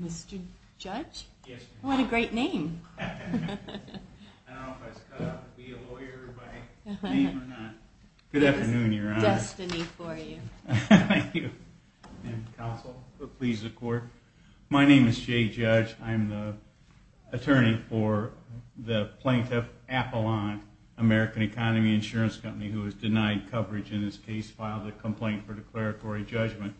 Mr. Judge, what a great name. I don't know if I was cut out to be a lawyer by name or not. Good afternoon, your honor. It's destiny for you. Thank you. And counsel, please, the court. My name is Jay Judge. I'm the attorney for the plaintiff, Apollon American Economy Insurance Company, who has denied coverage in this case, filed a complaint for declaratory judgment.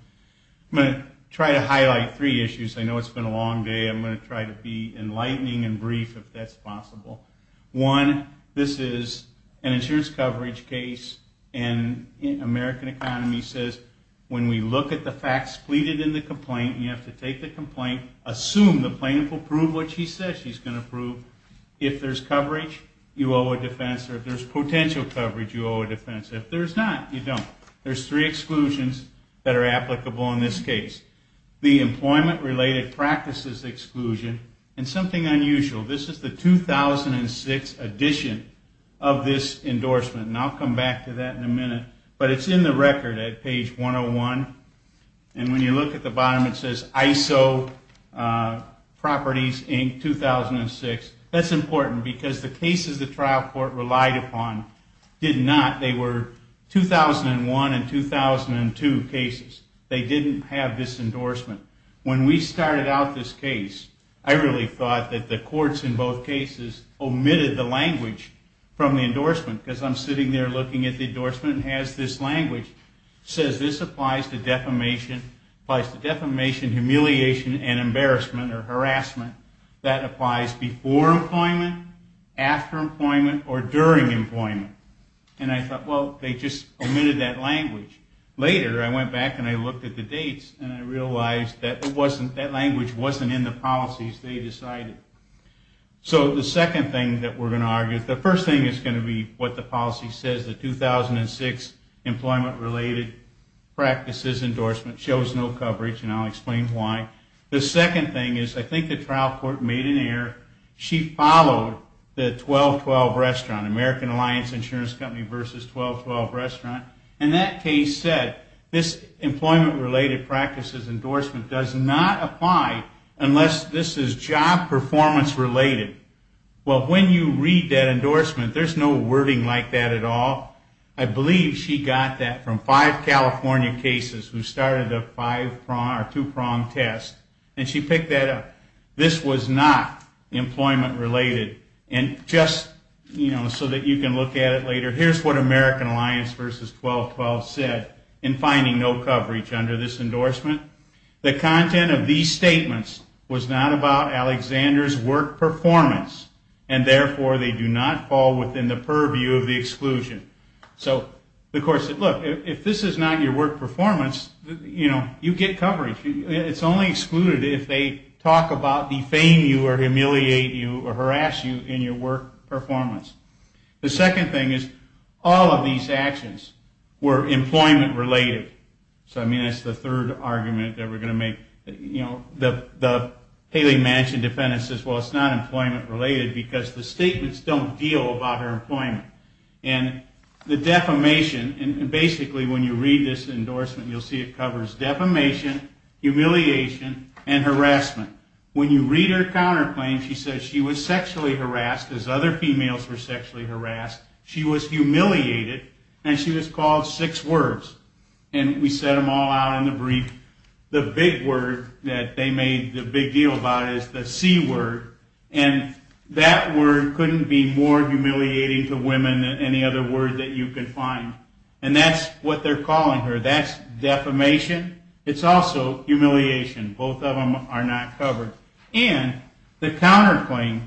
I'm going to try to highlight three issues. I know it's been a long day. I'm going to try to be enlightening and brief if that's possible. One, this is an insurance coverage case, and American Economy says when we look at the facts pleaded in the complaint, you have to take the complaint, assume the plaintiff will prove what she says she's going to prove. If there's coverage, you owe a defense. If there's potential coverage, you owe a defense. If there's not, you don't. There's three exclusions that are applicable in this case. The employment-related practices exclusion, and something unusual. This is the 2006 edition of this endorsement. And I'll come back to that in a minute. But it's in the record at page 101. And when you look at the bottom, it says ISO Properties, Inc., 2006. That's important, because the cases the trial court relied upon did not. They were 2001 and 2002 cases. They didn't have this endorsement. When we started out this case, I really thought that the courts in both cases omitted the language from the endorsement. Because I'm sitting there looking at the endorsement and it has this language. It says this applies to defamation, humiliation, and embarrassment or harassment. That applies before employment, after employment, or during employment. And I thought, well, they just omitted that language. Later, I went back and I looked at the dates, and I realized that that language wasn't in the policies they decided. So the second thing that we're going to argue, the first thing is going to be what the policy says, the 2006 employment-related practices endorsement shows no coverage, and I'll explain why. The second thing is, I think the trial court made an error. She followed the 12-12 restaurant, American Alliance Insurance Company versus 12-12 restaurant. And that case said, this employment-related practices endorsement does not apply unless this is job performance related. Well, when you read that endorsement, there's no wording like that at all. I believe she got that from five California cases who started a two-pronged test, and she picked that up. This was not employment-related. And just so that you can look at it later, here's what American Alliance versus 12-12 said in finding no coverage under this endorsement. The content of these statements was not about Alexander's work performance, and therefore, they do not fall within the purview of the exclusion. So the court said, look, if this is not your work performance, you get coverage. It's only excluded if they talk about defame you or humiliate you or harass you in your work performance. The second thing is, all of these actions were employment-related. So I mean, that's the third argument that we're going to make. The Haley Mansion defendant says, well, it's not employment-related, because the statements don't deal about her employment. And the defamation, and basically when you read this endorsement, you'll see it covers defamation, humiliation, and harassment. When you read her counterclaim, she says she was sexually harassed, as other females were sexually harassed. She was humiliated, and she was called six words. And we set them all out in the brief. The big word that they made the big deal about is the C word, and that word couldn't be more humiliating to women than any other word that you could find. And that's what they're calling her. That's defamation. It's also humiliation. Both of them are not covered. And the counterclaim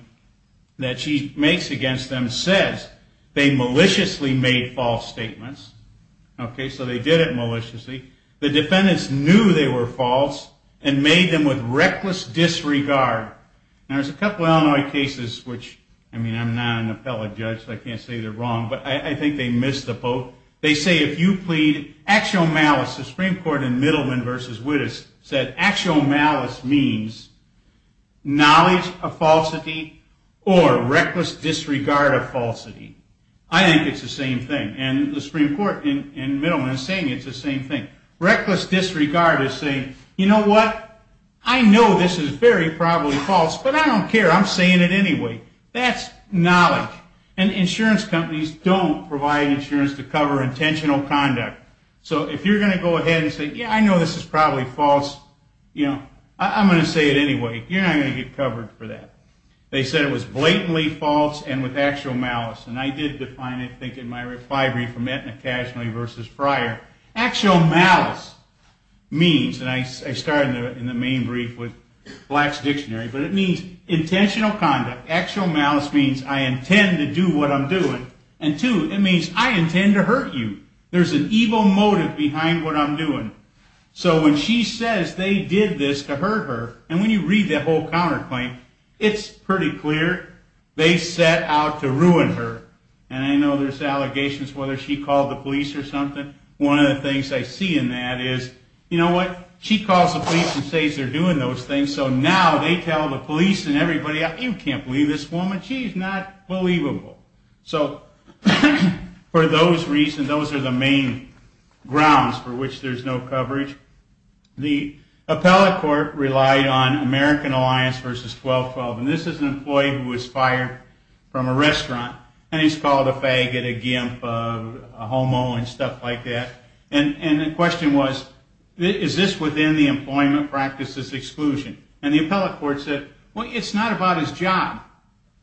that she makes against them says they maliciously made false statements. Okay, so they did it maliciously. The defendants knew they were false and made them with reckless disregard. Now, there's a couple of Illinois cases which, I mean, I'm not an appellate judge, so I can't say they're wrong, but I think they missed the boat. They say if you plead actual malice, the Supreme Court in Middleman v. Wittes said actual malice means knowledge of falsity or reckless disregard of falsity. I think it's the same thing. And the Supreme Court in Middleman is saying it's the same thing. Reckless disregard is saying, you know what, I know this is very probably false, but I don't care. I'm saying it anyway. That's knowledge. And insurance companies don't provide insurance to cover intentional conduct. So if you're going to go ahead and say, yeah, I know this is probably false, I'm going to say it anyway. You're not going to get covered for that. They said it was blatantly false and with actual malice. And I did define it, I think, in my reply brief from Aetna Casualty v. Fryer. Actual malice means, and I started in the main brief with Black's Dictionary, but it means intentional conduct. Actual malice means I intend to do what I'm doing. And two, it means I intend to hurt you. There's an evil motive behind what I'm doing. So when she says they did this to hurt her, and when you read that whole counterclaim, it's pretty clear they set out to ruin her. And I know there's allegations whether she called the police or something. One of the things I see in that is, you know what, she calls the police and says they're doing those things, so now they tell the police and everybody, you can't believe this woman, she's not believable. So for those reasons, those are the main grounds for which there's no coverage. The appellate court relied on American Alliance v. 1212. And this is an employee who was fired from a restaurant, and he's called a faggot, a gimp, a homo, and stuff like that. And the question was, is this within the employment practice's exclusion? And the appellate court said, well, it's not about his job.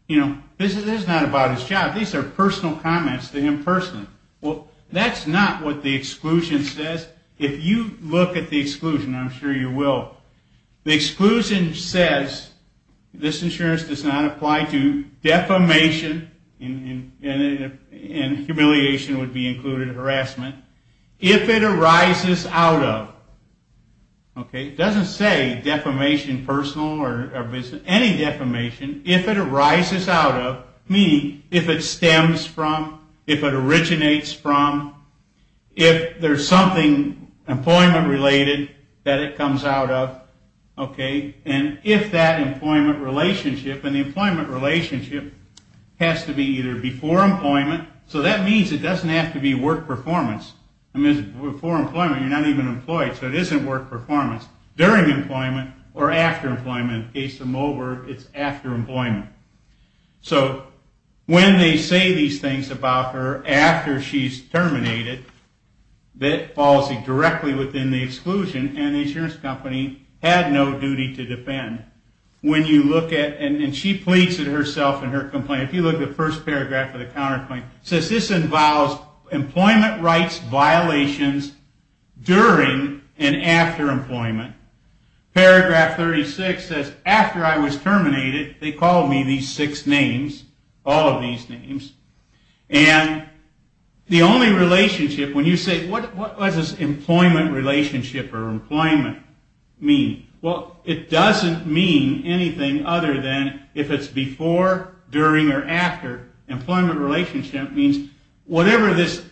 This is not about his job. These are personal comments to him personally. Well, that's not what the exclusion says. If you look at the exclusion, I'm sure you will, the exclusion says this insurance does not apply to defamation, and humiliation would be included, harassment. If it arises out of, okay, it doesn't say defamation personal or any defamation. If it arises out of, meaning if it stems from, if it originates from, if there's something employment related that it comes out of, okay, and if that employment relationship, and the employment relationship has to be either before employment, so that means it doesn't have to be work performance. I mean, before employment, you're not even employed, so it isn't work performance. During employment, or after employment, in the case of Moberg, it's after employment. So when they say these things about her after she's terminated, that falls directly within the exclusion, and the insurance company had no duty to defend. And she pleads it herself in her complaint. If you look at the first paragraph of the counter complaint, it says this involves employment rights violations during and after employment. Paragraph 36 says, after I was terminated, they called me these six names, all of these names, and the only relationship, when you say, what does this employment relationship or employment mean? Well, it doesn't mean anything other than if it's before, during, or after. Employment relationship means whatever this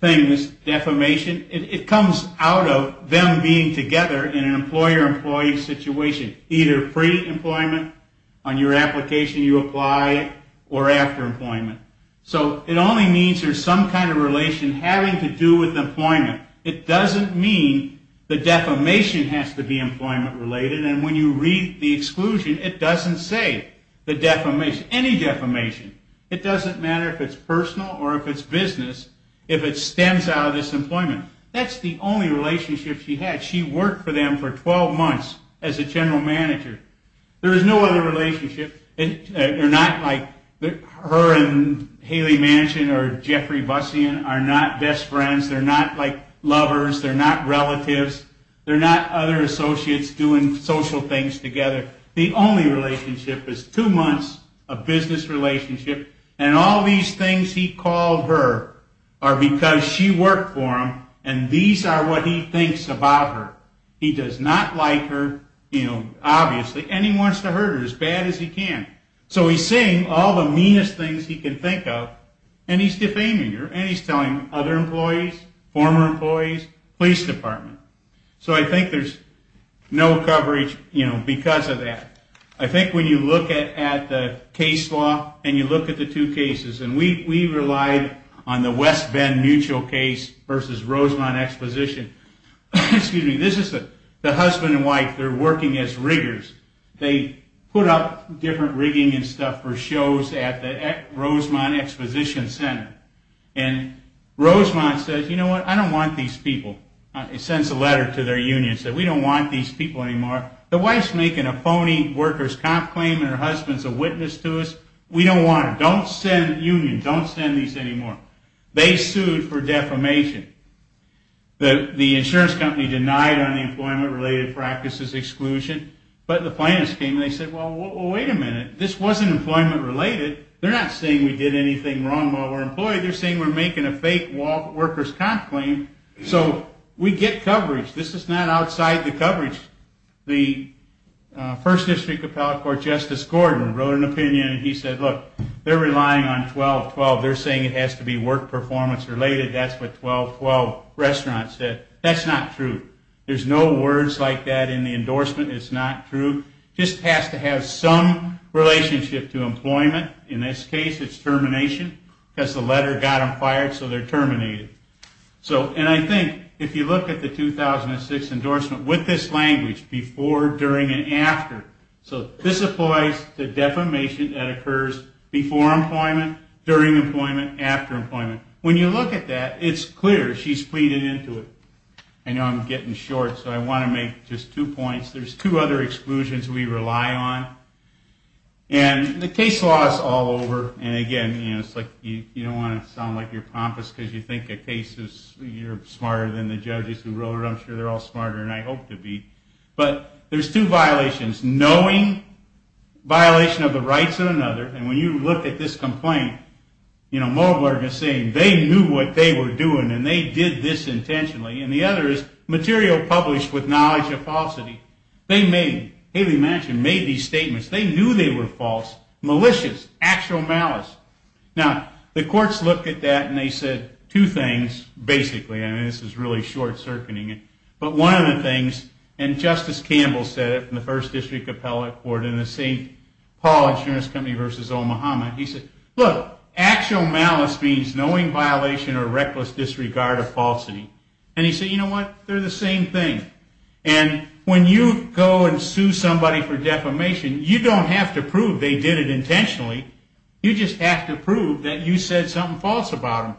thing is, defamation, it comes out of them being together in an employer-employee situation, either pre-employment, on your application you apply, or after employment. So it only means there's some kind of relation having to do with employment. It doesn't mean the defamation has to be employment related, and when you read the exclusion, it doesn't say the defamation, any defamation. It doesn't matter if it's personal or if it's business, if it stems out of this employment. That's the only relationship she had. She worked for them for 12 months as a general manager. There's no other relationship. They're not like her and Haley Manchin or Jeffrey Bussien are not best friends, they're not like lovers, they're not relatives, they're not other associates doing social things together. The only relationship is two months of business relationship, and all these things he called her are because she worked for him, and these are what he thinks about her. He does not like her, obviously, and he wants to hurt her as bad as he can, so he's saying all the meanest things he can think of, and he's defaming her, and he's telling other employees, former employees, police department. So I think there's no coverage because of that. I think when you look at the case law and you look at the two cases, and we relied on the West Bend Mutual case versus Rosemont Exposition, excuse me, this is the husband and wife, they're working as riggers. They put up different rigging and stuff for shows at the Rosemont Exposition Center, and Rosemont says, you know what, I don't want these people. It sends a letter to their union, says we don't want these people anymore. The wife's making a phony worker's comp claim and her husband's a witness to us. We don't want them. Don't send unions, don't send these anymore. They sued for defamation. The insurance company denied unemployment-related practices exclusion, but the plaintiffs came and said, well, wait a minute, this wasn't employment-related. They're not saying we did anything wrong while we're employed. They're saying we're making a fake workers' comp claim, so we get coverage. This is not outside the coverage. The First District Appellate Court Justice Gordon wrote an opinion, and he said, look, they're relying on 12-12. They're saying it has to be work performance related. That's what 12-12 restaurant said. That's not true. There's no words like that in the endorsement. It's not true. It just has to have some relationship to employment. In this case, it's termination, because the letter got them fired, so they're terminated. So, and I think if you look at the 2006 endorsement with this language, before, during, and after, so this applies to defamation that occurs before employment, during employment, after employment. When you look at that, it's clear she's pleaded into it. I know I'm getting short, so I want to make just two points. There's two other exclusions we rely on. And the case law is all over, and again, you don't want to sound like you're pompous because you think a case is, you're smarter than the judges who wrote it. I'm sure they're all smarter, and I hope to be. But there's two violations, knowing violation of the rights of another, and when you look at this complaint, you know, Moberg is saying they knew what they were doing, and they did this intentionally. And the other is, material published with knowledge of falsity. They made, Haley Manchin made these statements. They knew they were false, malicious, actual malice. Now, the courts looked at that, and they said two things, basically, and this is really short-circuiting it, but one of the things, and Justice Campbell said it in the First District Appellate Court in the St. Paul Insurance Company v. Omaha, he said, look, actual malice means knowing violation or reckless disregard of falsity. And he said, you know what, they're the same thing. And when you go and sue somebody for defamation, you don't have to prove they did it intentionally. You just have to prove that you said something false about them.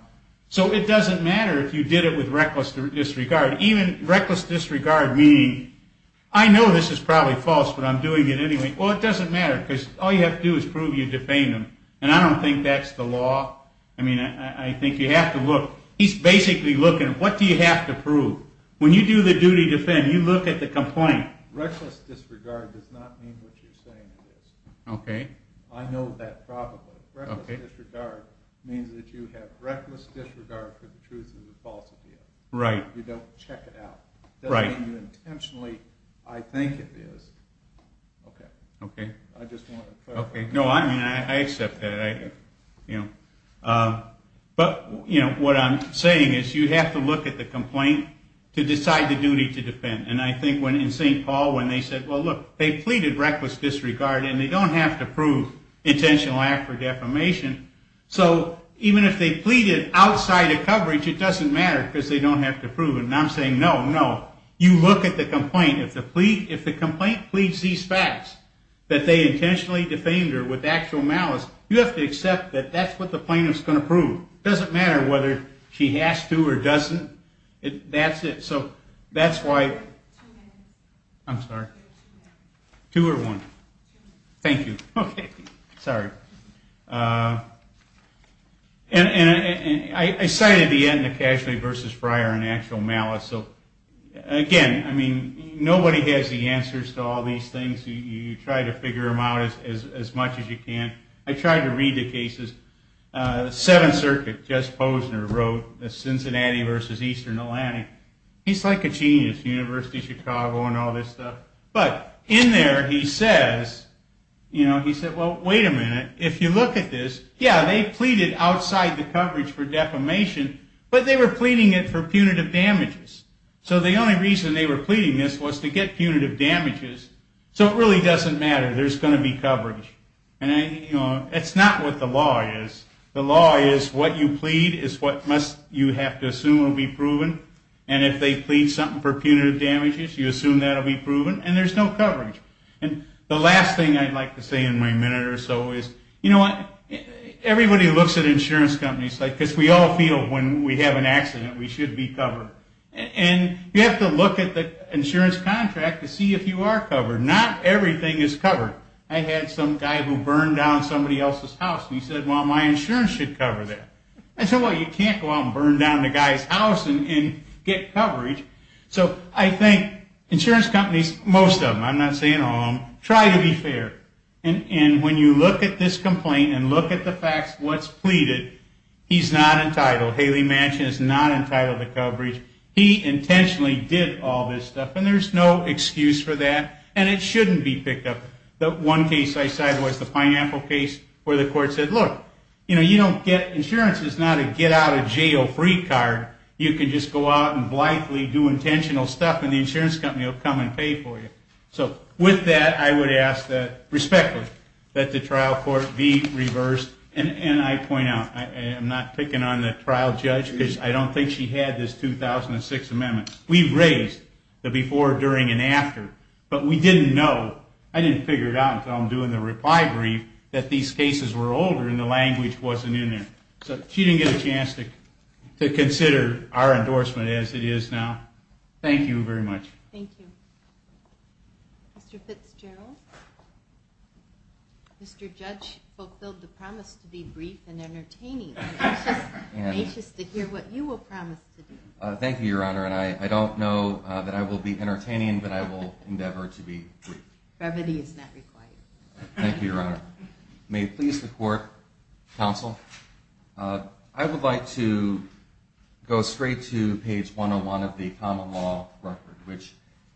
So it doesn't matter if you did it with reckless disregard. Even reckless disregard, meaning, I know this is probably false, but I'm doing it anyway. Well, it doesn't matter, because all you have to do is prove you defamed them. And I don't think that's the law. I mean, I think you have to look. He's basically looking, what do you have to prove? When you do the duty to defend, you look at the complaint. Reckless disregard does not mean what you're saying it is. I know that probably. Reckless disregard means that you have reckless disregard for the truth of the false appeal. You don't check it out. It doesn't mean you intentionally, I think it is. Okay. I just want to clarify. No, I mean, I accept that. But what I'm saying is you have to look at the complaint to decide the duty to defend. And I think in St. Paul, when they said, well, look, they pleaded reckless disregard, and they don't have to prove intentional act for defamation, so even if they pleaded outside of coverage, it doesn't matter, because they don't have to prove it. And I'm saying, no, no. You look at the complaint. If the complaint pleads these facts, that they intentionally defamed her with actual malice, you have to accept that that's what the plaintiff's going to prove. It doesn't matter whether she has to or doesn't. That's it. So that's why. I'm sorry. Two or one. Thank you. Okay. Sorry. And I cited the end of Casualty v. Friar and actual malice, so again, I mean, nobody has the answers to all these things, you try to figure them out as much as you can. I tried to read the cases. Seventh Circuit, Jess Posner wrote, Cincinnati v. Eastern Atlantic. He's like a genius, University of Chicago and all this stuff. But in there, he says, well, wait a minute, if you look at this, yeah, they pleaded outside the coverage for defamation, but they were pleading it for punitive damages. So the only reason they were pleading this was to get punitive damages. So it really doesn't matter. There's going to be coverage. And it's not what the law is. The law is what you plead is what you have to assume will be proven. And if they plead something for punitive damages, you assume that will be proven. And there's no coverage. And the last thing I'd like to say in my minute or so is, you know what, everybody looks at insurance companies, because we all feel when we have an accident, we should be covered. And you have to look at the insurance contract to see if you are covered. Not everything is covered. I had some guy who burned down somebody else's house, and he said, well, my insurance should cover that. I said, well, you can't go out and burn down the guy's house and get coverage. So I think insurance companies, most of them, I'm not saying all of them, try to be fair. And when you look at this complaint and look at the facts, what's pleaded, he's not entitled. Haley Mansion is not entitled to coverage. He intentionally did all this stuff, and there's no excuse for that. And it shouldn't be picked up. The one case I cited was the pineapple case, where the court said, look, you know, you don't get insurance. It's not a get out of jail free card. You can just go out and blithely do intentional stuff, and the insurance company will come and pay for you. So with that, I would ask that, respectfully, that the trial court be reversed. And I point out, I'm not picking on the trial judge, because I don't think she had this 2006 amendment. We've raised the before, during, and after, but we didn't know, I didn't figure it out until I'm doing the reply brief, that these cases were older and the language wasn't in there. So she didn't get a chance to consider our endorsement as it is now. Thank you very much. Thank you. Mr. Fitzgerald? Mr. Judge fulfilled the promise to be brief and entertaining. I'm anxious to hear what you will promise to do. Thank you, Your Honor, and I don't know that I will be entertaining, but I will endeavor to be brief. Brevity is not required. Thank you, Your Honor. May it please the court, counsel, I would like to go straight to page 101 of the common law record, which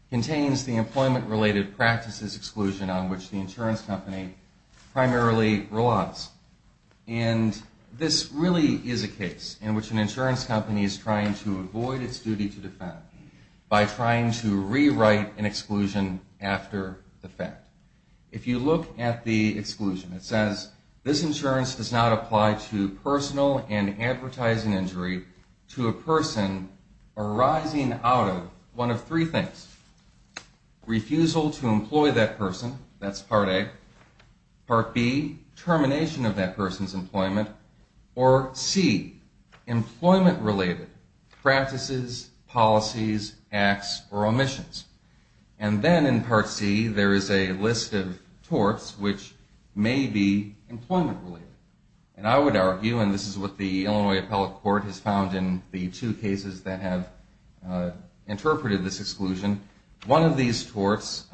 contains the employment-related practices exclusion on which the insurance company primarily relies. And this really is a case in which an insurance company is trying to avoid its duty to defend by trying to rewrite an exclusion after the fact. If you look at the exclusion, it says, this insurance does not apply to personal and advertising injury to a person arising out of one of three things. Refusal to employ that person, that's part A. Part B, termination of that person's employment. Or C, employment-related practices, policies, acts, or omissions. And then in part C, there is a list of torts which may be employment-related. And I would argue, and this is what the Illinois Appellate Court has found in the two cases that have interpreted this exclusion, one of these torts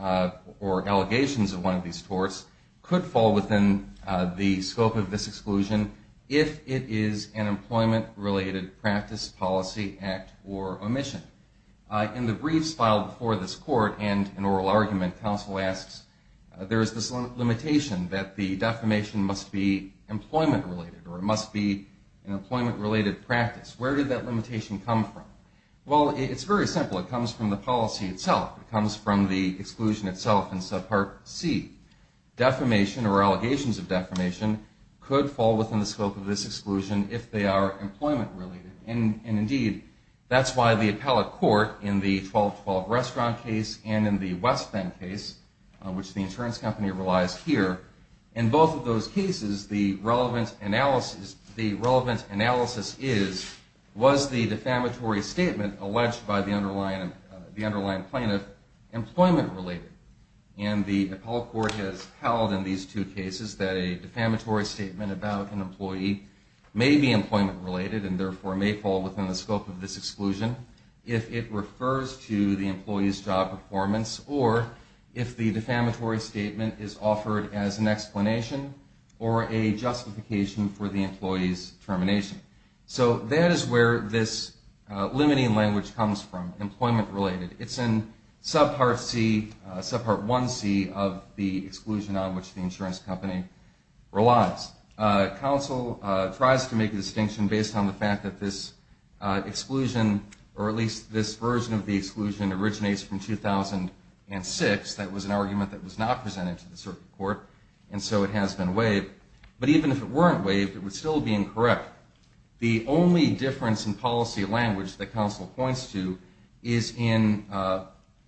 or allegations of one of these torts could fall within the scope of this exclusion if it is an employment-related practice, policy, act, or omission. In the briefs filed before this court and in oral argument, counsel asks, there is this limitation that the defamation must be employment-related or it must be an employment-related practice. Where did that limitation come from? Well, it's very simple. It comes from the policy itself. It comes from the exclusion itself in subpart C. Defamation or allegations of defamation could fall within the scope of this exclusion if they are employment-related. And indeed, that's why the Appellate Court in the 1212 Restaurant case and in the West Bend case, which the insurance company relies here, in both of those cases, the relevant analysis is, was the defamatory statement alleged by the underlying plaintiff employment-related? And the Appellate Court has held in these two cases that a defamatory statement about an employee may be employment-related and therefore may fall within the scope of this exclusion if it refers to the employee's job performance or if the defamatory statement is offered as an explanation or a justification for the employee's termination. So that is where this limiting language comes from, employment-related. It's in subpart C, subpart 1C of the exclusion on which the insurance company relies. Counsel tries to make a distinction based on the fact that this exclusion, or at least this version of the exclusion, originates from 2006. That was an argument that was not presented to the circuit court and so it has been waived, but even if it weren't waived, it would still be incorrect. The only difference in policy language that counsel points to is in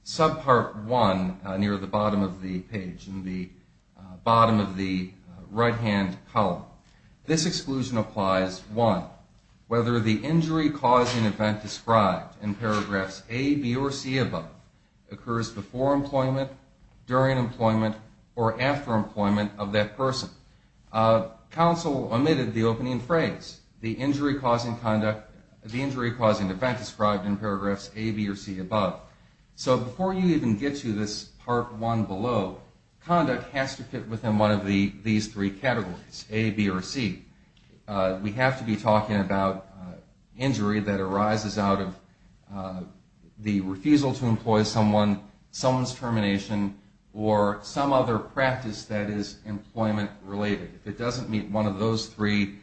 subpart 1 near the bottom of the page, in the bottom of the right-hand column. This exclusion applies, one, whether the injury-causing event described in paragraphs A, B, or C above occurs before employment, during employment, or after employment of that person. Counsel omitted the opening phrase, the injury-causing event described in paragraphs A, B, or C above. So before you even get to this part 1 below, conduct has to fit within one of these three categories, A, B, or C. We have to be talking about injury that arises out of the refusal to employ someone, someone's termination, or some other practice that is employment-related. If it doesn't meet one of those three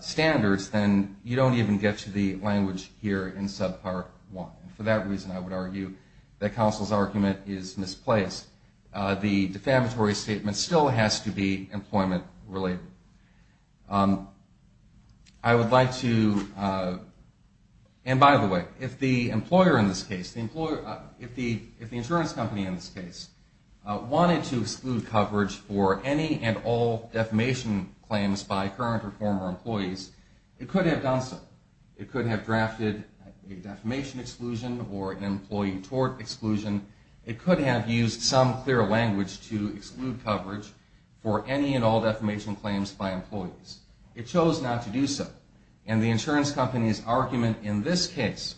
standards, then you don't even get to the language here in subpart 1. For that reason, I would argue that counsel's argument is misplaced. The defamatory statement still has to be employment-related. I would like to, and by the way, if the employer in this case, if the insurance company in this case wanted to exclude coverage for any and all defamation claims by current or former employees, it could have done so. It could have drafted a defamation exclusion or an employee tort exclusion. It could have used some clear language to exclude coverage for any and all defamation claims by employees. It chose not to do so. And the insurance company's argument in this case,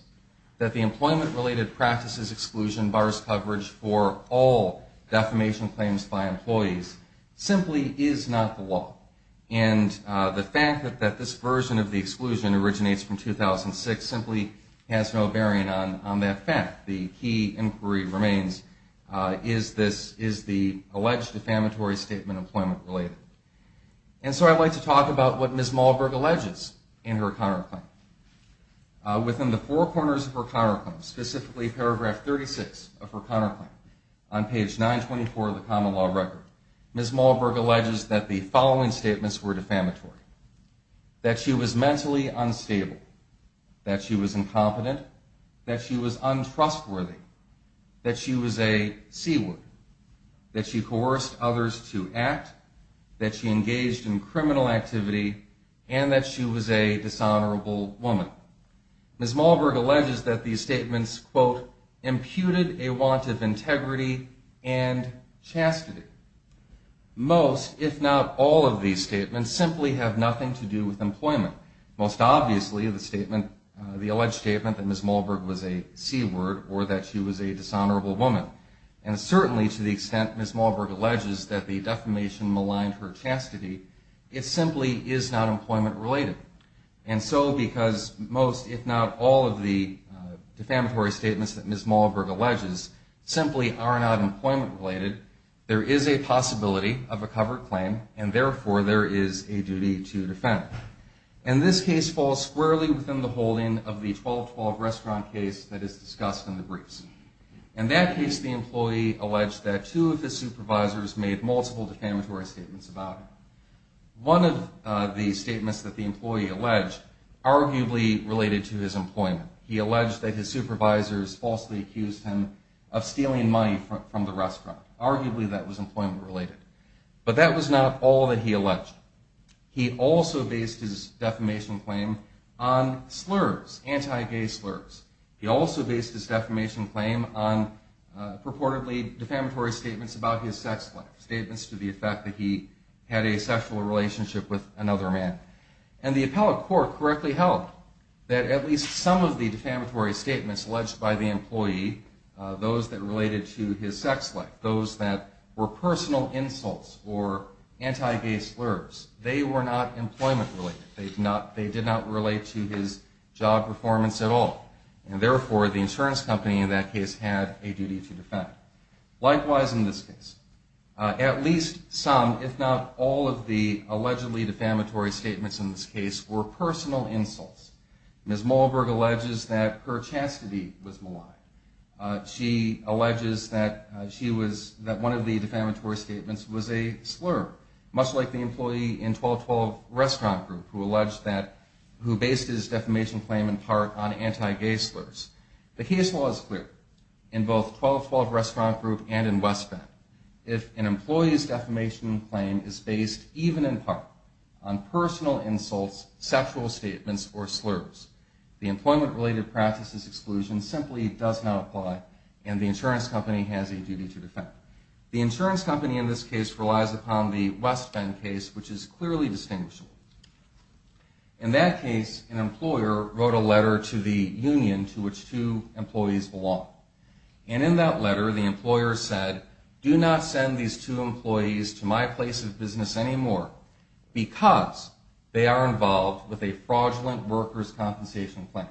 that the employment-related practices exclusion bars coverage for all defamation claims by employees, simply is not the law. And the fact that this version of the exclusion originates from 2006 simply has no bearing on that fact. The key inquiry remains, is the alleged defamatory statement employment-related. And so I'd like to talk about what Ms. Malberg alleges in her counterclaim. Within the four corners of her counterclaim, specifically paragraph 36 of her counterclaim, on page 924 of the common law record, Ms. Malberg alleges that the following statements were defamatory. That she was mentally unstable. That she was incompetent. That she was untrustworthy. That she was a C-word. That she coerced others to act. That she engaged in criminal activity. And that she was a dishonorable woman. Ms. Malberg alleges that these statements, quote, imputed a want of integrity and chastity. Most, if not all of these statements, simply have nothing to do with employment. Most obviously, the statement, the alleged statement that Ms. Malberg was a C-word or that she was a dishonorable woman. And certainly to the extent Ms. Malberg alleges that the defamation maligned her chastity, it simply is not employment-related. And so because most, if not all of the defamatory statements that Ms. Malberg alleges simply are not employment-related, there is a possibility of a covered claim and therefore there is a duty to defend it. And this case falls squarely within the holding of the 12-12 restaurant case that is discussed in the briefs. In that case, the employee alleged that two of his supervisors made multiple defamatory statements about him. One of the statements that the employee alleged arguably related to his employment. He alleged that his supervisors falsely accused him of stealing money from the restaurant. Arguably that was employment-related. But that was not all that he alleged. He also based his defamation claim on slurs, anti-gay slurs. He also based his defamation claim on purportedly defamatory statements about his sex life, statements to the effect that he had a sexual relationship with another man. And the appellate court correctly held that at least some of the defamatory statements alleged by the employee, those that related to his sex life, those that were personal insults or anti-gay slurs, they were not employment-related. They did not relate to his job performance at all. And therefore, the insurance company in that case had a duty to defend. Likewise in this case. At least some, if not all, of the allegedly defamatory statements in this case were personal insults. Ms. Mohlberg alleges that her chastity was malign. She alleges that one of the defamatory statements was a slur, much like the employee in 12-12 restaurant group who based his defamation claim in part on anti-gay slurs. The case law is clear in both 12-12 restaurant group and in West Bend. If an employee's defamation claim is based even in part on personal insults, sexual statements, or slurs, the employment-related practices exclusion simply does not apply and the insurance company has a duty to defend. The insurance company in this case relies upon the West Bend case, which is clearly distinguishable. In that case, an employer wrote a letter to the union to which two employees belong. And in that letter, the employer said, do not send these two employees to my place of business anymore because they are involved with a fraudulent workers' compensation claim.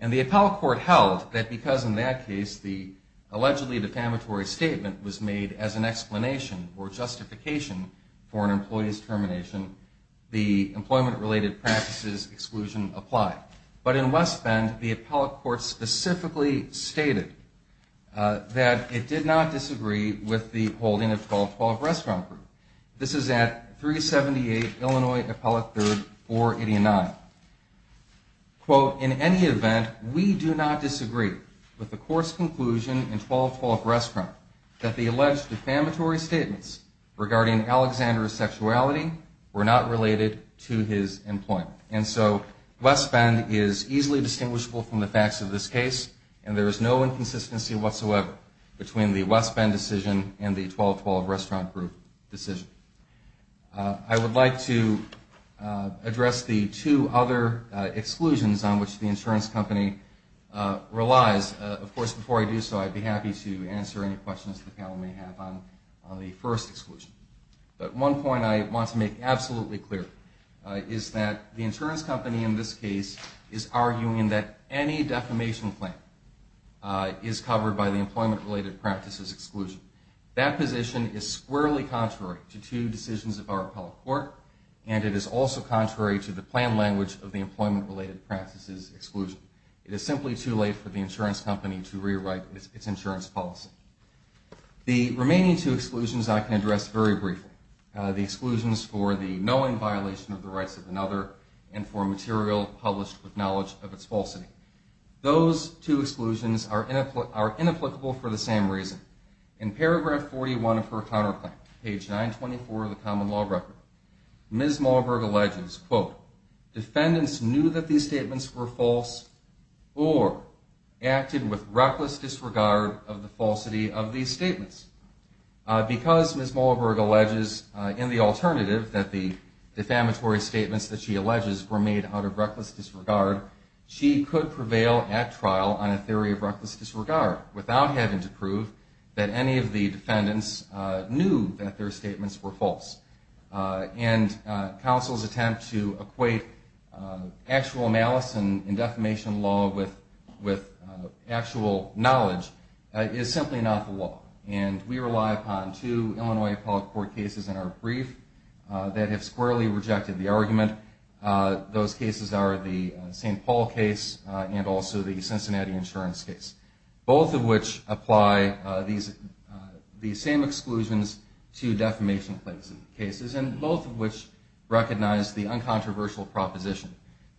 And the appellate court held that because in that case the allegedly defamatory statement was made as an explanation or justification for an employee's termination, the employment-related practices exclusion applied. But in West Bend, the appellate court specifically stated that it did not disagree with the holding of 12-12 restaurant group. This is at 378 Illinois Appellate 3rd, 489. Quote, in any event, we do not disagree with the court's conclusion in 12-12 restaurant that the alleged defamatory statements regarding Alexander's sexuality were not related to his employment. And so West Bend is easily distinguishable from the facts of this case and there is no inconsistency whatsoever between the West Bend decision and the 12-12 restaurant group decision. I would like to address the two other exclusions on which the insurance company relies. Of course, before I do so, I'd be happy to answer any questions the panel may have on the first exclusion. But one point I want to make absolutely clear is that the insurance company in this case is arguing that any defamation claim is covered by the employment-related practices exclusion. That position is squarely contrary to two decisions of our appellate court and it is also contrary to the plan language of the employment-related practices exclusion. It is simply too late for the insurance company to rewrite its insurance policy. The remaining two exclusions I can address very briefly. The exclusions for the knowing violation of the rights of another and for material published with knowledge of its falsity. Those two exclusions are inapplicable for the same reason. In paragraph 41 of her counterclaim, page 924 of the common law record, Ms. Malberg alleges, quote, defendants knew that these statements were false or acted with reckless disregard of the falsity of these statements. Because Ms. Malberg alleges in the alternative that the defamatory statements that she alleges were made out of reckless disregard, she could prevail at trial on a theory of reckless disregard without having to prove that any of the defendants knew that their statements were false. And counsel's attempt to equate actual malice in defamation law with actual knowledge is simply not the law. And we rely upon two Illinois appellate court cases in our brief that have squarely rejected the argument. Those cases are the St. Paul case and also the Cincinnati insurance case, both of which apply these same exclusions to defamation cases, and both of which recognize the uncontroversial proposition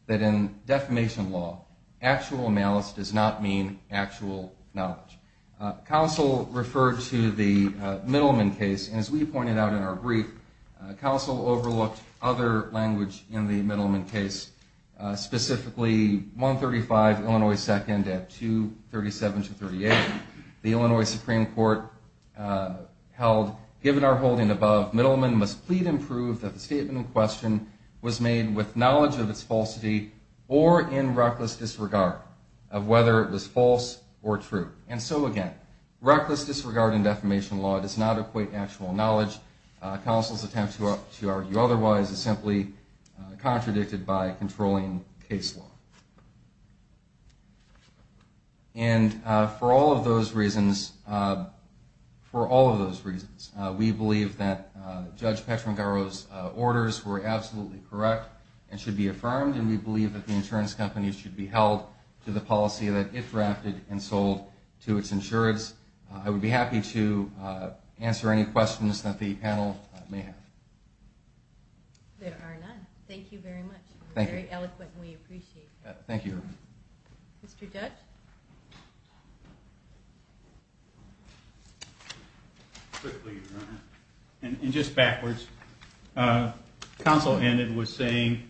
that in defamation law, actual malice does not mean actual knowledge. Counsel referred to the Middleman case, and as we pointed out in our brief, counsel overlooked other language in the Middleman case, specifically 135 Illinois 2nd at 237 to 38, the Illinois Supreme Court held given our holding above, Middleman must plead and prove that the statement in question was made with knowledge of its falsity or in reckless disregard of whether it was false or true. So again, reckless disregard in defamation law does not equate actual knowledge. Counsel's attempt to argue otherwise is simply contradicted by controlling case law. And for all of those reasons, for all of those reasons, we believe that Judge Petrangaro's orders were absolutely correct and should be affirmed, and we believe that the insurance company should be held to the policy that it drafted and sold to its insurance. I would be happy to answer any questions that the panel may have. There are none. Thank you very much. You were very eloquent, and we appreciate that. Thank you. Mr. Judge? And just backwards, counsel ended with saying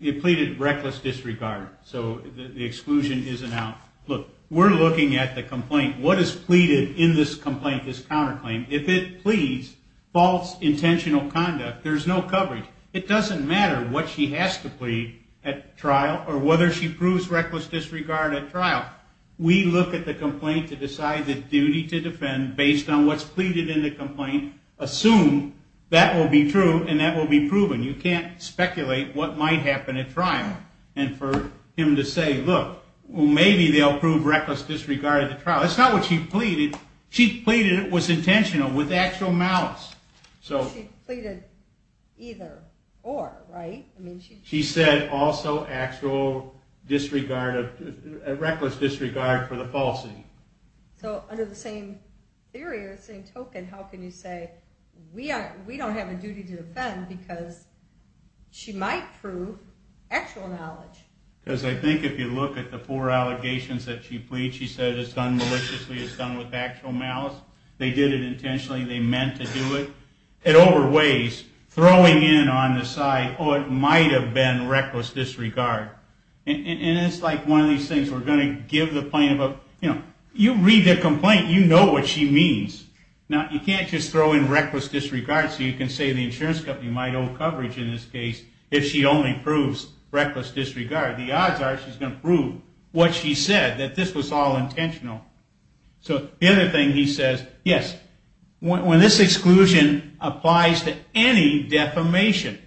it pleaded reckless disregard, so the exclusion isn't out. Look, we're looking at the complaint. What is pleaded in this complaint, this counterclaim? If it pleads false intentional conduct, there's no coverage. It doesn't matter what she has to plead at trial or whether she proves reckless disregard at trial. We look at the complaint to decide the duty to defend based on what's pleaded in the complaint, assume that will be true and that will be proven. You can't speculate what might happen at trial. And for him to say, look, maybe they'll prove reckless disregard at the trial. That's not what she pleaded. She pleaded it was intentional with actual malice. She pleaded either or, right? She said also actual disregard, reckless disregard for the falsity. So under the same theory, the same token, how can you say we don't have a duty to defend because she might prove actual malice? Because I think if you look at the four allegations that she pleads, she said it's done maliciously, it's done with actual malice. They did it intentionally, they meant to do it. It overweighs throwing in on the side, oh, it might have been reckless disregard. And it's like one of these things, we're going to give the plaintiff a, you know, you read the complaint, you know what she means. Now, you can't just throw in reckless disregard so you can say the insurance company might owe coverage in this case if she only proves reckless disregard. The odds are she's going to prove what she said, that this was all intentional. So the other thing he says, yes, when this exclusion applies to any defamation,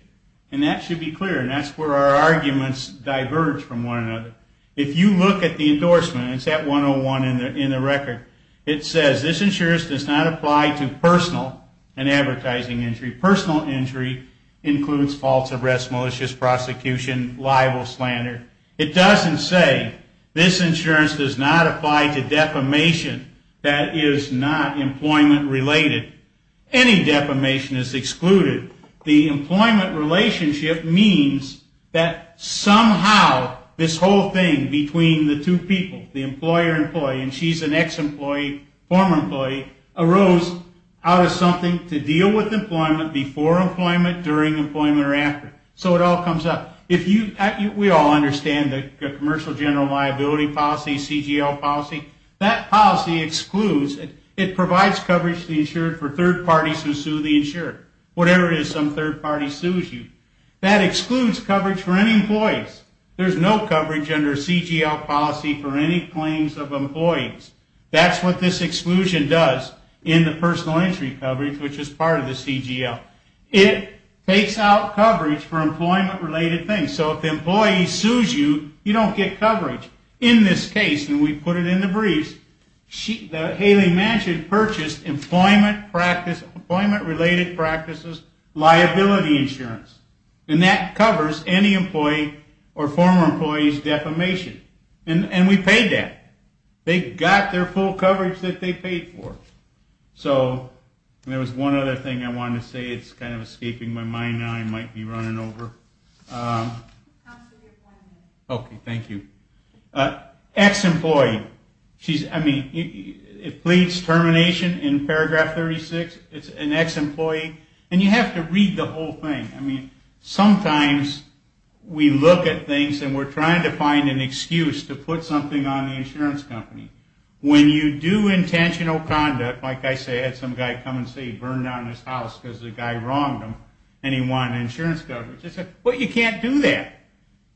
and that should be clear. And that's where our arguments diverge from one another. If you look at the endorsement, it's at 101 in the record. It says this insurance does not apply to personal and advertising injury. Personal injury includes false arrest, malicious prosecution, libel, slander. It doesn't say this insurance does not apply to defamation that is not employment related. Any defamation is excluded. The employment relationship means that somehow this whole thing between the two people, the employer-employee, and she's an ex-employee, former employee, arose out of something to deal with employment before employment, during employment, or after. So it all comes up. We all understand the commercial general liability policy, CGL policy. That policy excludes, it provides coverage to the insured for third parties who sue the insured. Whatever it is some third party sues you. That excludes coverage for any employees. There's no coverage under CGL policy for any claims of employees. That's what this exclusion does in the personal injury coverage, which is part of the CGL. It takes out coverage for employment related things. So if the employee sues you, you don't get coverage. In this case, and we put it in the briefs, Hayley Manchin purchased employment related practices liability insurance. And that covers any employee or former employee's defamation. And we paid that. They got their full coverage that they paid for. So there was one other thing I wanted to say. It's kind of escaping my mind now. I might be running over. Okay, thank you. Ex-employee. She's, I mean, it pleads termination in paragraph 36. It's an ex-employee. And you have to read the whole thing. I mean, sometimes we look at things and we're trying to find an excuse to put something on the insurance company. When you do intentional conduct, like I said, I had some guy come and say he burned down his house because the guy wronged him. And he wanted insurance coverage. I said, well, you can't do that.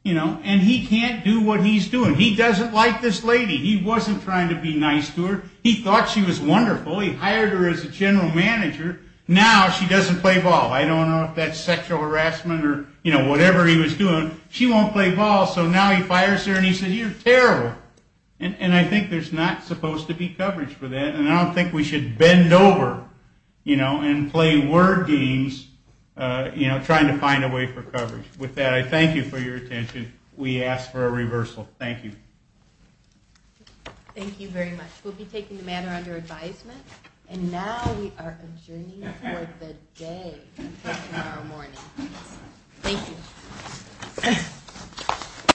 And he can't do what he's doing. He doesn't like this lady. He wasn't trying to be nice to her. He thought she was wonderful. He hired her as a general manager. Now she doesn't play ball. I don't know if that's sexual harassment or whatever he was doing. She won't play ball. So now he fires her and he says, you're terrible. And I think there's not supposed to be coverage for that. And I don't think we should bend over, you know, and play word games, you know, trying to find a way for coverage. With that, I thank you for your attention. We ask for a reversal. Thank you. Thank you very much. We'll be taking the matter under advisement. And now we are adjourning for the day tomorrow morning. Thank you.